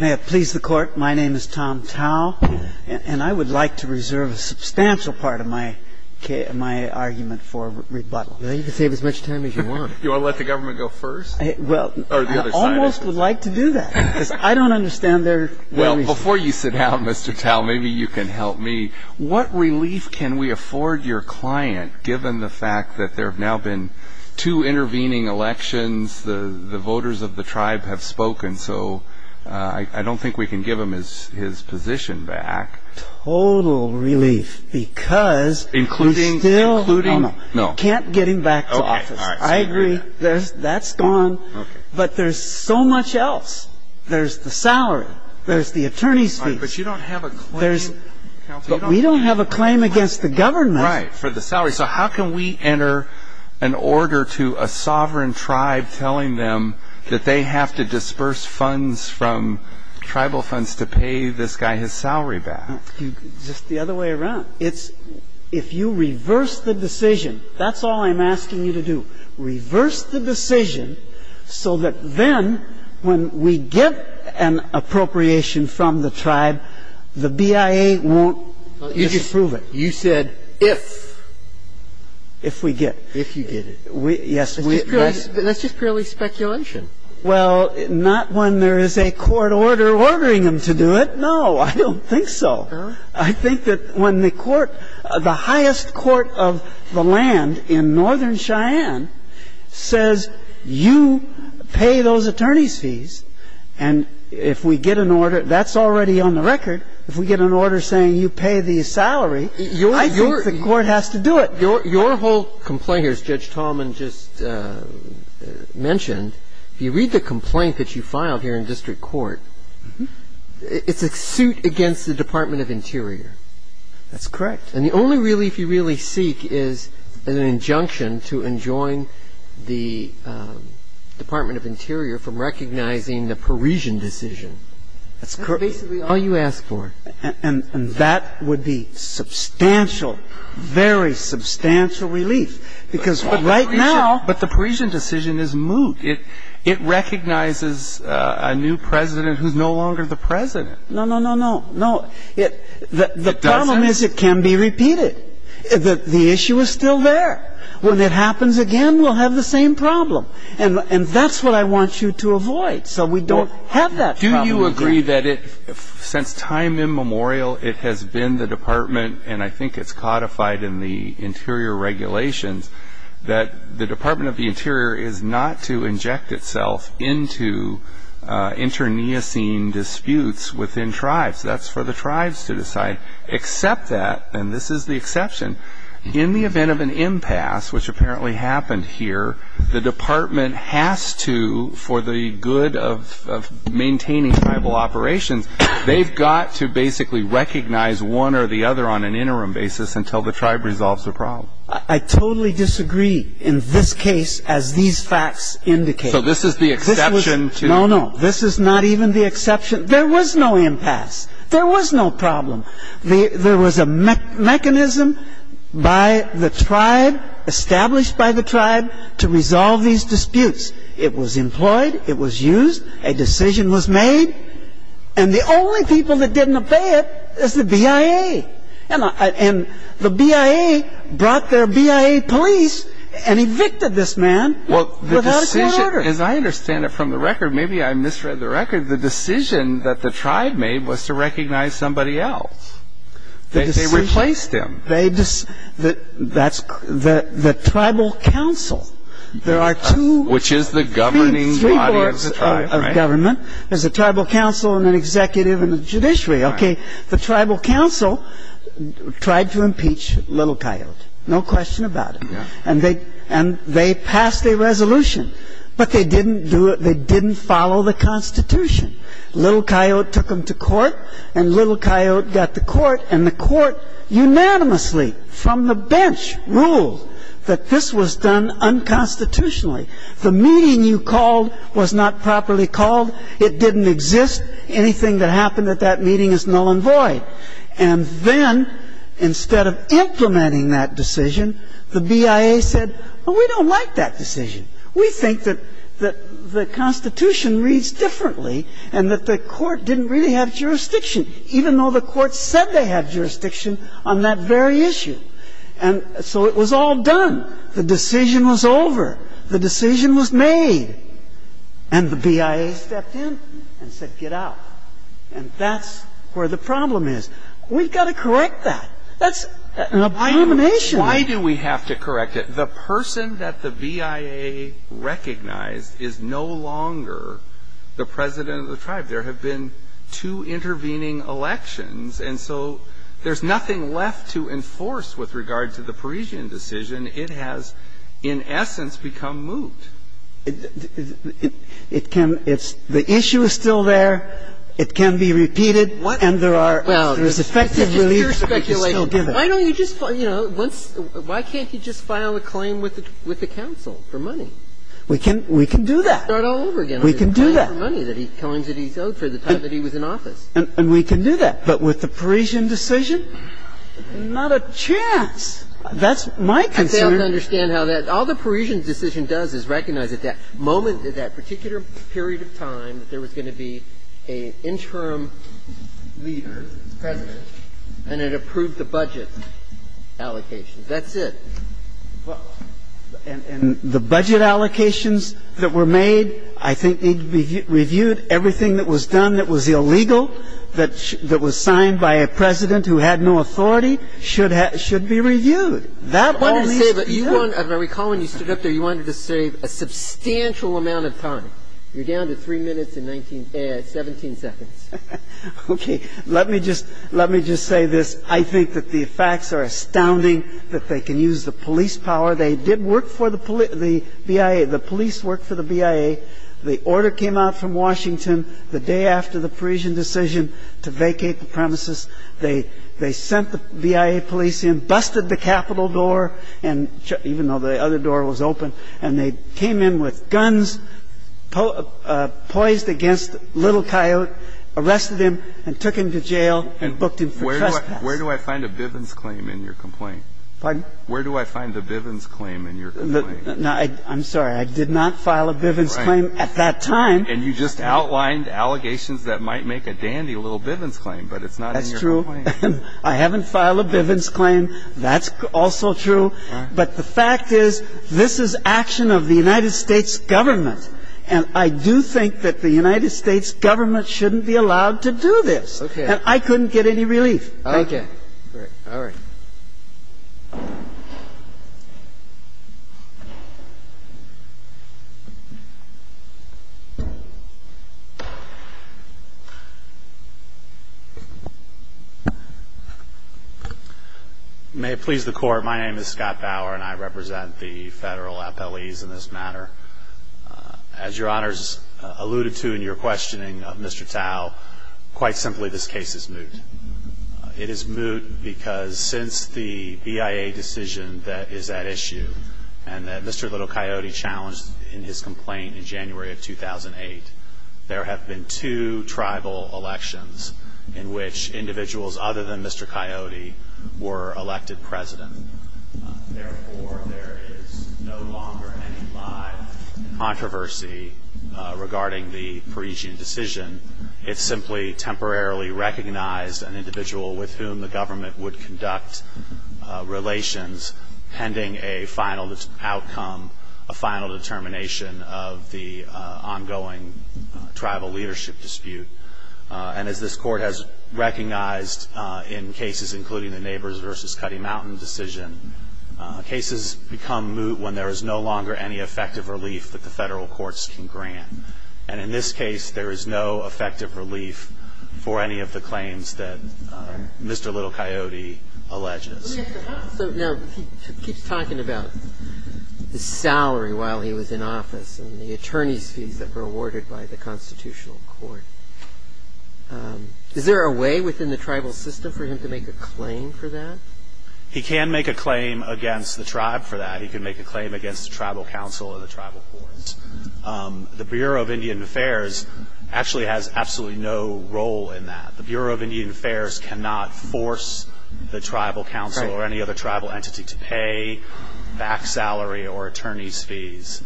May it please the Court, my name is Tom Tao, and I would like to reserve a substantial part of my argument for rebuttal. Well, you can save as much time as you want. You want to let the government go first? Well, I almost would like to do that, because I don't understand their reason. Well, before you sit down, Mr. Tao, maybe you can help me. What relief can we afford your client, given the fact that there have now been two intervening elections, the voters of the tribe have spoken, so I don't think we can give him his position back. Total relief, because you still can't get him back to office. I agree, that's gone. But there's so much else. There's the salary. There's the attorney's fees. But you don't have a claim. We don't have a claim against the government. Right, for the salary. So how can we enter an order to a sovereign tribe telling them that they have to disperse funds from tribal funds to pay this guy his salary back? Just the other way around. If you reverse the decision, that's all I'm asking you to do. Reverse the decision so that then when we get an appropriation from the tribe, the BIA won't approve it. You said if. If we get. If you get it. Yes. That's just purely speculation. Well, not when there is a court order ordering them to do it. No, I don't think so. I think that when the court, the highest court of the land in northern Cheyenne says you pay those attorney's fees, and if we get an order, that's already on the record. If we get an order saying you pay the salary, I think the court has to do it. Your whole complaint here, as Judge Tallman just mentioned, if you read the complaint that you filed here in district court, it's a suit against the Department of Interior. That's correct. And the only relief you really seek is an injunction to enjoin the Department of Interior from recognizing the Parisian decision. That's correct. That's basically all you ask for. And that would be substantial, very substantial relief, because right now. But the Parisian decision is moot. It recognizes a new president who's no longer the president. No, no, no, no, no. It doesn't. The problem is it can be repeated. The issue is still there. When it happens again, we'll have the same problem. And that's what I want you to avoid so we don't have that problem again. Since time immemorial, it has been the department, and I think it's codified in the interior regulations, that the Department of the Interior is not to inject itself into internecine disputes within tribes. That's for the tribes to decide. Except that, and this is the exception, in the event of an impasse, which apparently happened here, the department has to, for the good of maintaining tribal operations, they've got to basically recognize one or the other on an interim basis until the tribe resolves the problem. I totally disagree in this case, as these facts indicate. So this is the exception? No, no. This is not even the exception. There was no impasse. There was no problem. There was a mechanism by the tribe, established by the tribe, to resolve these disputes. It was employed. It was used. A decision was made. And the only people that didn't obey it is the BIA. And the BIA brought their BIA police and evicted this man without a clear order. As I understand it from the record, maybe I misread the record, the decision that the tribe made was to recognize somebody else. They replaced him. The tribal council, there are two, three boards of government. There's a tribal council and an executive and a judiciary. The tribal council tried to impeach Little Coyote. No question about it. And they passed a resolution, but they didn't follow the Constitution. Little Coyote took him to court, and Little Coyote got to court, and the court unanimously from the bench ruled that this was done unconstitutionally. The meeting you called was not properly called. It didn't exist. Anything that happened at that meeting is null and void. And then, instead of implementing that decision, the BIA said, well, we don't like that decision. We think that the Constitution reads differently and that the court didn't really have jurisdiction, even though the court said they had jurisdiction on that very issue. And so it was all done. The decision was over. The decision was made. And the BIA stepped in and said, get out. And that's where the problem is. We've got to correct that. That's an abomination. Why do we have to correct it? The person that the BIA recognized is no longer the president of the tribe. There have been two intervening elections. And so there's nothing left to enforce with regard to the Parisian decision. It has, in essence, become moot. It can be repeated, and there are effective reliefs, but we can still give it. Why don't you just, you know, once why can't he just file a claim with the council for money? We can do that. We can do that. And we can do that. But with the Parisian decision, not a chance. That's my concern. I fail to understand how that all the Parisian decision does is recognize at that moment, at that particular period of time, that there was going to be an interim leader, president, and it approved the budget allocations. That's it. Well, and the budget allocations that were made, I think, need to be reviewed and reviewed. Everything that was done that was illegal, that was signed by a president who had no authority, should be reviewed. That only speaks. I recall when you stood up there, you wanted to save a substantial amount of time. You're down to 3 minutes and 17 seconds. Okay. Let me just say this. I think that the facts are astounding, that they can use the police power. They did work for the BIA. The police worked for the BIA. The order came out from Washington the day after the Parisian decision to vacate the premises. They sent the BIA police in, busted the Capitol door, even though the other door was open, and they came in with guns poised against Little Coyote, arrested him, and took him to jail and booked him for trespass. Where do I find a Bivens claim in your complaint? Pardon? Where do I find the Bivens claim in your complaint? I'm sorry. I did not file a Bivens claim at that time. And you just outlined allegations that might make a dandy little Bivens claim, but it's not in your complaint. That's true. I haven't filed a Bivens claim. That's also true. But the fact is, this is action of the United States government, and I do think that the United States government shouldn't be allowed to do this. Okay. And I couldn't get any relief. Thank you. All right. Thank you. May it please the Court, my name is Scott Bauer, and I represent the federal appellees in this matter. As Your Honors alluded to in your questioning of Mr. Tao, quite simply, this case is moot. It is moot because since the BIA decision that is at issue, and that Mr. Little Coyote challenged in his complaint in January of 2008, there have been two tribal elections in which individuals other than Mr. Coyote were elected president. Therefore, there is no longer any live controversy regarding the Parisian decision. It simply temporarily recognized an individual with whom the government would conduct relations pending a final outcome, a final determination of the ongoing tribal leadership dispute. And as this Court has recognized in cases including the Neighbors v. Cutty Mountain decision, cases become moot when there is no longer any effective relief that the federal courts can grant. And in this case, there is no effective relief for any of the claims that Mr. Little Coyote alleges. Now, he keeps talking about the salary while he was in office and the attorney's fees that were awarded by the Constitutional Court. Is there a way within the tribal system for him to make a claim for that? He can make a claim against the tribe for that. He can make a claim against the tribal council or the tribal courts. The Bureau of Indian Affairs actually has absolutely no role in that. The Bureau of Indian Affairs cannot force the tribal council or any other tribal entity to pay back salary or attorney's fees.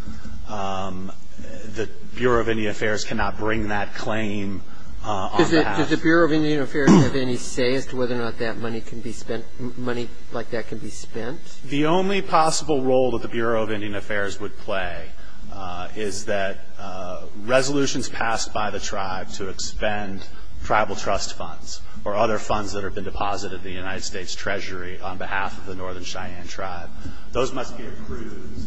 The Bureau of Indian Affairs cannot bring that claim on the House. Does the Bureau of Indian Affairs have any say as to whether or not that money can be spent, money like that can be spent? The only possible role that the Bureau of Indian Affairs would play is that resolutions passed by the tribe to expend tribal trust funds or other funds that have been deposited in the United States Treasury on behalf of the Northern Cheyenne Tribe, those must be approved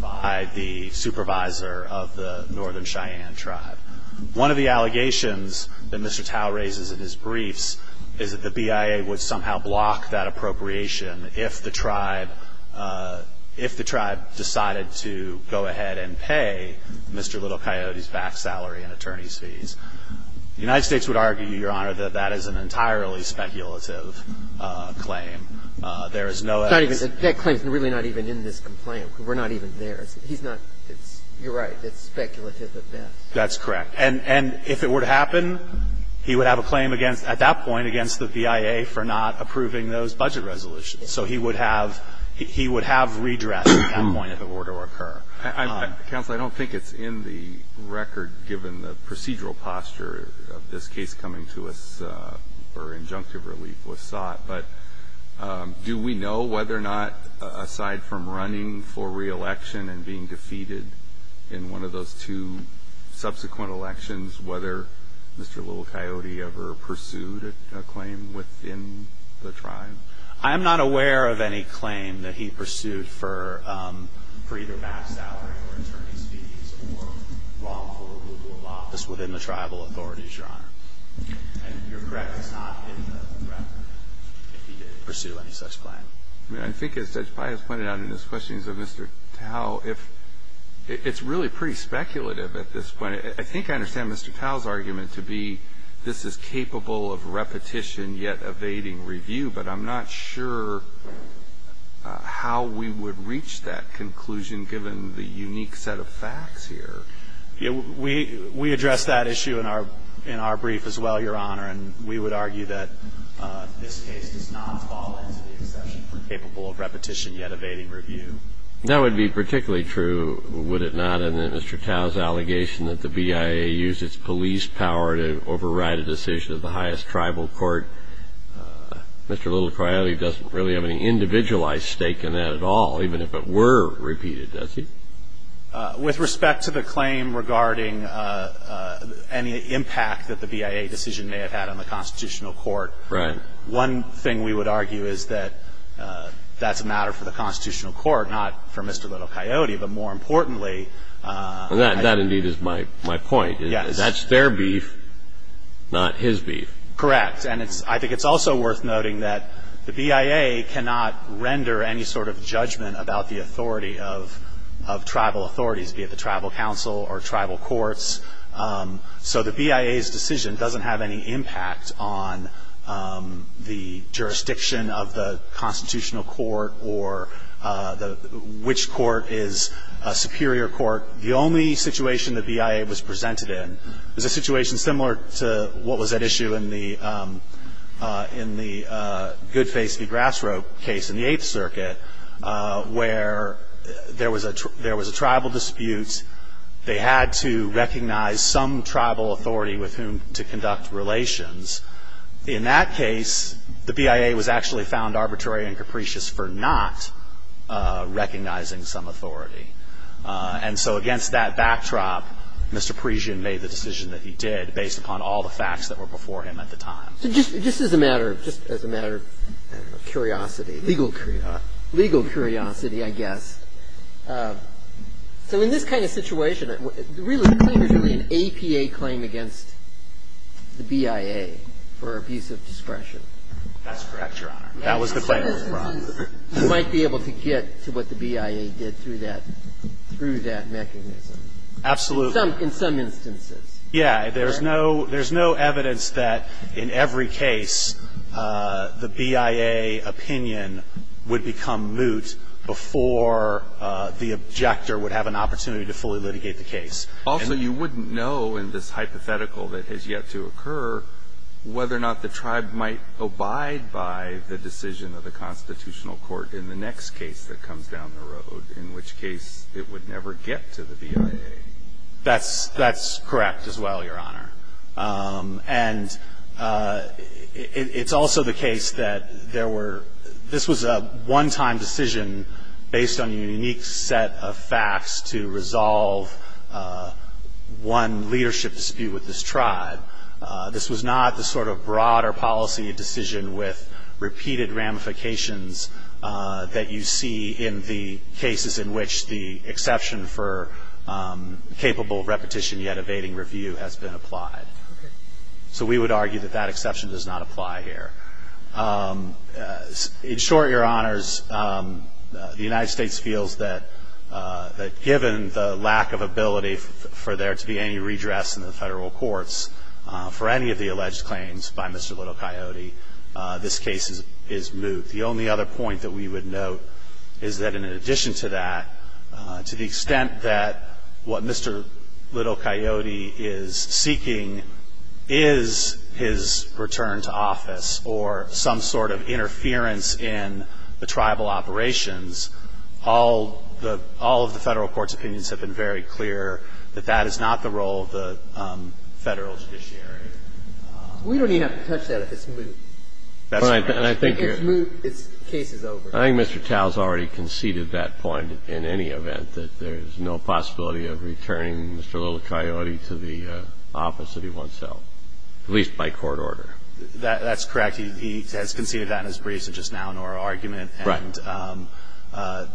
by the supervisor of the Northern Cheyenne Tribe. One of the allegations that Mr. Tao raises in his briefs is that the BIA would somehow block that appropriation if the tribe, if the tribe decided to go ahead and pay Mr. Little Coyote's back salary and attorney's fees. The United States would argue, Your Honor, that that is an entirely speculative claim. There is no evidence. That claim is really not even in this complaint. We're not even there. He's not. You're right. It's speculative at best. That's correct. And if it were to happen, he would have a claim against, at that point, against the BIA for not approving those budget resolutions. So he would have redress at that point if it were to occur. Counsel, I don't think it's in the record given the procedural posture of this case coming to us or injunctive relief was sought, but do we know whether or not aside from running for reelection and being defeated in one of those two subsequent elections, whether Mr. Little Coyote ever pursued a claim within the tribe? I am not aware of any claim that he pursued for either back salary or attorney's fees or wrongful removal of office within the tribal authorities, Your Honor. And you're correct, it's not in the record if he did pursue any such claim. I mean, I think as Judge Pius pointed out in his questions of Mr. Tao, it's really pretty speculative at this point. I think I understand Mr. Tao's argument to be this is capable of repetition yet evading review, but I'm not sure how we would reach that conclusion given the unique set of facts here. We address that issue in our brief as well, Your Honor, and we would argue that this case does not fall into the exception for capable of repetition yet evading review. That would be particularly true, would it not, in that Mr. Tao's allegation that the BIA used its police power to override a decision of the highest tribal court, Mr. Little Coyote doesn't really have any individualized stake in that at all, even if it were repeated, does he? With respect to the claim regarding any impact that the BIA decision may have had on the constitutional court, one thing we would argue is that that's a matter for the constitutional court, not for Mr. Little Coyote, but more importantly... That indeed is my point. Yes. That's their beef, not his beef. Correct. And I think it's also worth noting that the BIA cannot render any sort of judgment about the authority of tribal authorities, be it the tribal council or tribal courts, so the BIA's decision doesn't have any impact on the jurisdiction of the court, which court is a superior court. The only situation the BIA was presented in was a situation similar to what was at issue in the Goodface v. Grass Rope case in the Eighth Circuit, where there was a tribal dispute. They had to recognize some tribal authority with whom to conduct relations. In that case, the BIA was actually found arbitrary and capricious for not recognizing some authority. And so against that backdrop, Mr. Parisian made the decision that he did, based upon all the facts that were before him at the time. So just as a matter of curiosity, legal curiosity, I guess, so in this kind of situation, the claim is really an APA claim against the BIA for abuse of discretion. That's correct, Your Honor. That was the Bible fraud. You might be able to get to what the BIA did through that mechanism. Absolutely. In some instances. Yeah. There's no evidence that in every case the BIA opinion would become moot before the objector would have an opportunity to fully litigate the case. Also, you wouldn't know in this hypothetical that has yet to occur whether or not the tribe might abide by the decision of the constitutional court in the next case that comes down the road, in which case it would never get to the BIA. That's correct as well, Your Honor. And it's also the case that there were, this was a one-time decision based on a unique set of facts to resolve one leadership dispute with this tribe. This was not the sort of broader policy decision with repeated ramifications that you see in the cases in which the exception for capable repetition yet evading review has been applied. Okay. So we would argue that that exception does not apply here. In short, Your Honors, the United States feels that given the lack of ability for there to be any redress in the federal courts for any of the alleged claims by Mr. Little Coyote, this case is moot. The only other point that we would note is that in addition to that, to the extent that what Mr. Little Coyote is seeking is his return to office or some sort of interference in the tribal operations, all of the Federal court's opinions have been very clear that that is not the role of the Federal judiciary. We don't even have to touch that if it's moot. That's right. If it's moot, the case is over. I think Mr. Tao has already conceded that point in any event, that there is no possibility of returning Mr. Little Coyote to the office that he wants to, at least by court order. That's correct. He has conceded that in his briefs just now in our argument. Right. And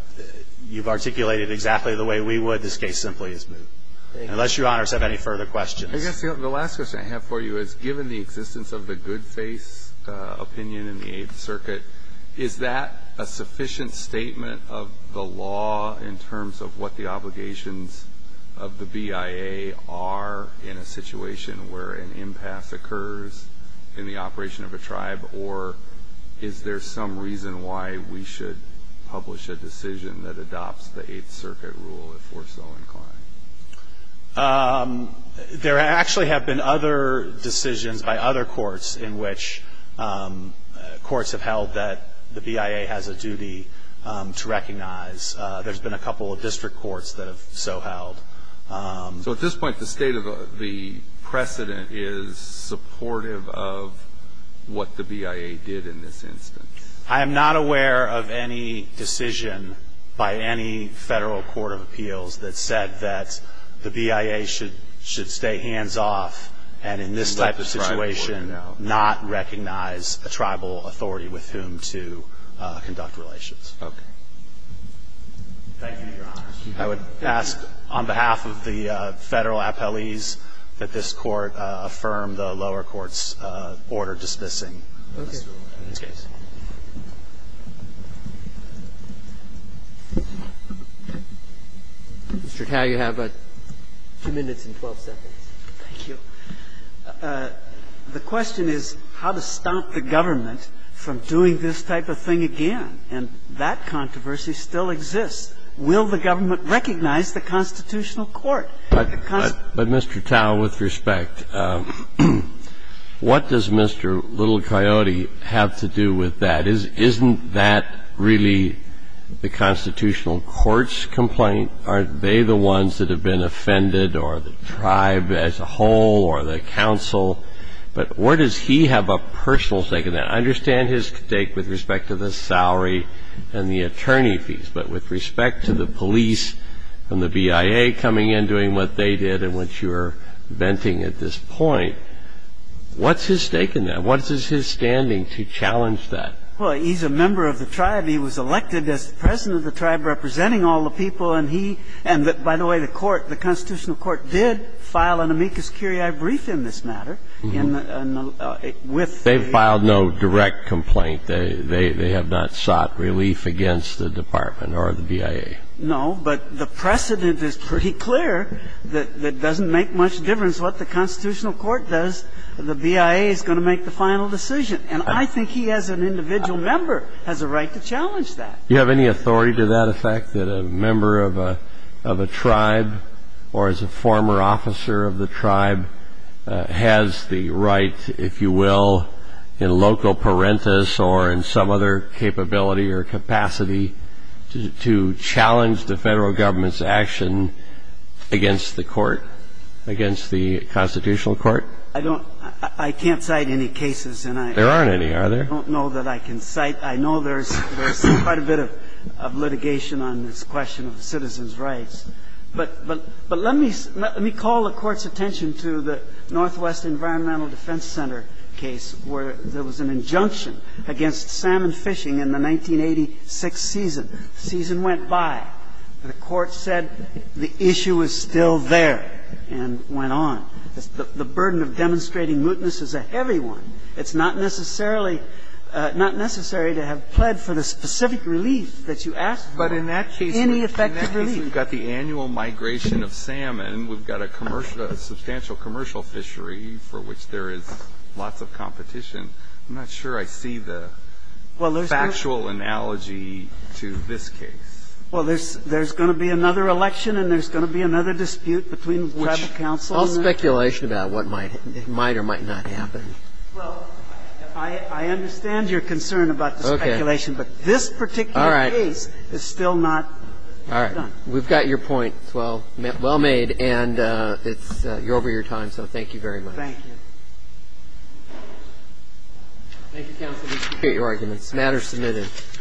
you've articulated exactly the way we would. This case simply is moot. Thank you. Unless Your Honors have any further questions. I guess the last question I have for you is given the existence of the good faith opinion in the Eighth Circuit, is that a sufficient statement of the law in terms of what the obligations of the BIA are in a situation where an impasse occurs in the operation of a tribe, or is there some reason why we should publish a decision that adopts the Eighth Circuit rule if we're so inclined? There actually have been other decisions by other courts in which courts have held that the BIA has a duty to recognize. There's been a couple of district courts that have so held. So at this point, the state of the precedent is supportive of what the BIA did in this instance? I am not aware of any decision by any federal court of appeals that said that the BIA should stay hands off and in this type of situation not recognize a tribal authority with whom to conduct relations. Okay. Thank you, Your Honors. I would ask on behalf of the federal appellees that this court affirm the lower court's order dismissing this case. Mr. Tao, you have 2 minutes and 12 seconds. Thank you. The question is how to stop the government from doing this type of thing again. And that controversy still exists. Will the government recognize the constitutional court? But, Mr. Tao, with respect, what does Mr. Little Coyote have to do with that? Isn't that really the constitutional court's complaint? Aren't they the ones that have been offended or the tribe as a whole or the council? But where does he have a personal stake in that? I understand his stake with respect to the salary and the attorney fees. But with respect to the police and the BIA coming in, doing what they did and what you're venting at this point, what's his stake in that? What is his standing to challenge that? Well, he's a member of the tribe. He was elected as the president of the tribe representing all the people. And he ñ and, by the way, the court, the constitutional court did file an amicus curiae brief in this matter. They filed no direct complaint. They have not sought relief against the department or the BIA. No. But the precedent is pretty clear that it doesn't make much difference what the constitutional court does. The BIA is going to make the final decision. And I think he, as an individual member, has a right to challenge that. Do you have any authority to that effect, that a member of a tribe or is a former officer of the tribe has the right, if you will, in loco parentis or in some other capability or capacity to challenge the federal government's action against the court, against the constitutional court? I don't ñ I can't cite any cases. There aren't any, are there? I don't know that I can cite ñ I know there's quite a bit of litigation on this question of citizens' rights. But let me ñ let me call the Court's attention to the Northwest Environmental Defense Center case where there was an injunction against salmon fishing in the 1986 season. The season went by. The Court said the issue is still there and went on. The burden of demonstrating mootness is a heavy one. It's not necessarily ñ not necessary to have pled for the specific relief that you asked for. Any effective relief. I mean, we've got the annual migration of salmon. We've got a commercial ñ a substantial commercial fishery for which there is lots of competition. I'm not sure I see the factual analogy to this case. Well, there's ñ there's going to be another election and there's going to be another dispute between tribal councils. All speculation about what might ñ might or might not happen. Well, I understand your concern about the speculation. Okay. But this particular case is still not done. We've got your point. It's well ñ well made. And it's ñ you're over your time. So thank you very much. Thank you. Thank you, counsel. We appreciate your arguments. The matter is submitted.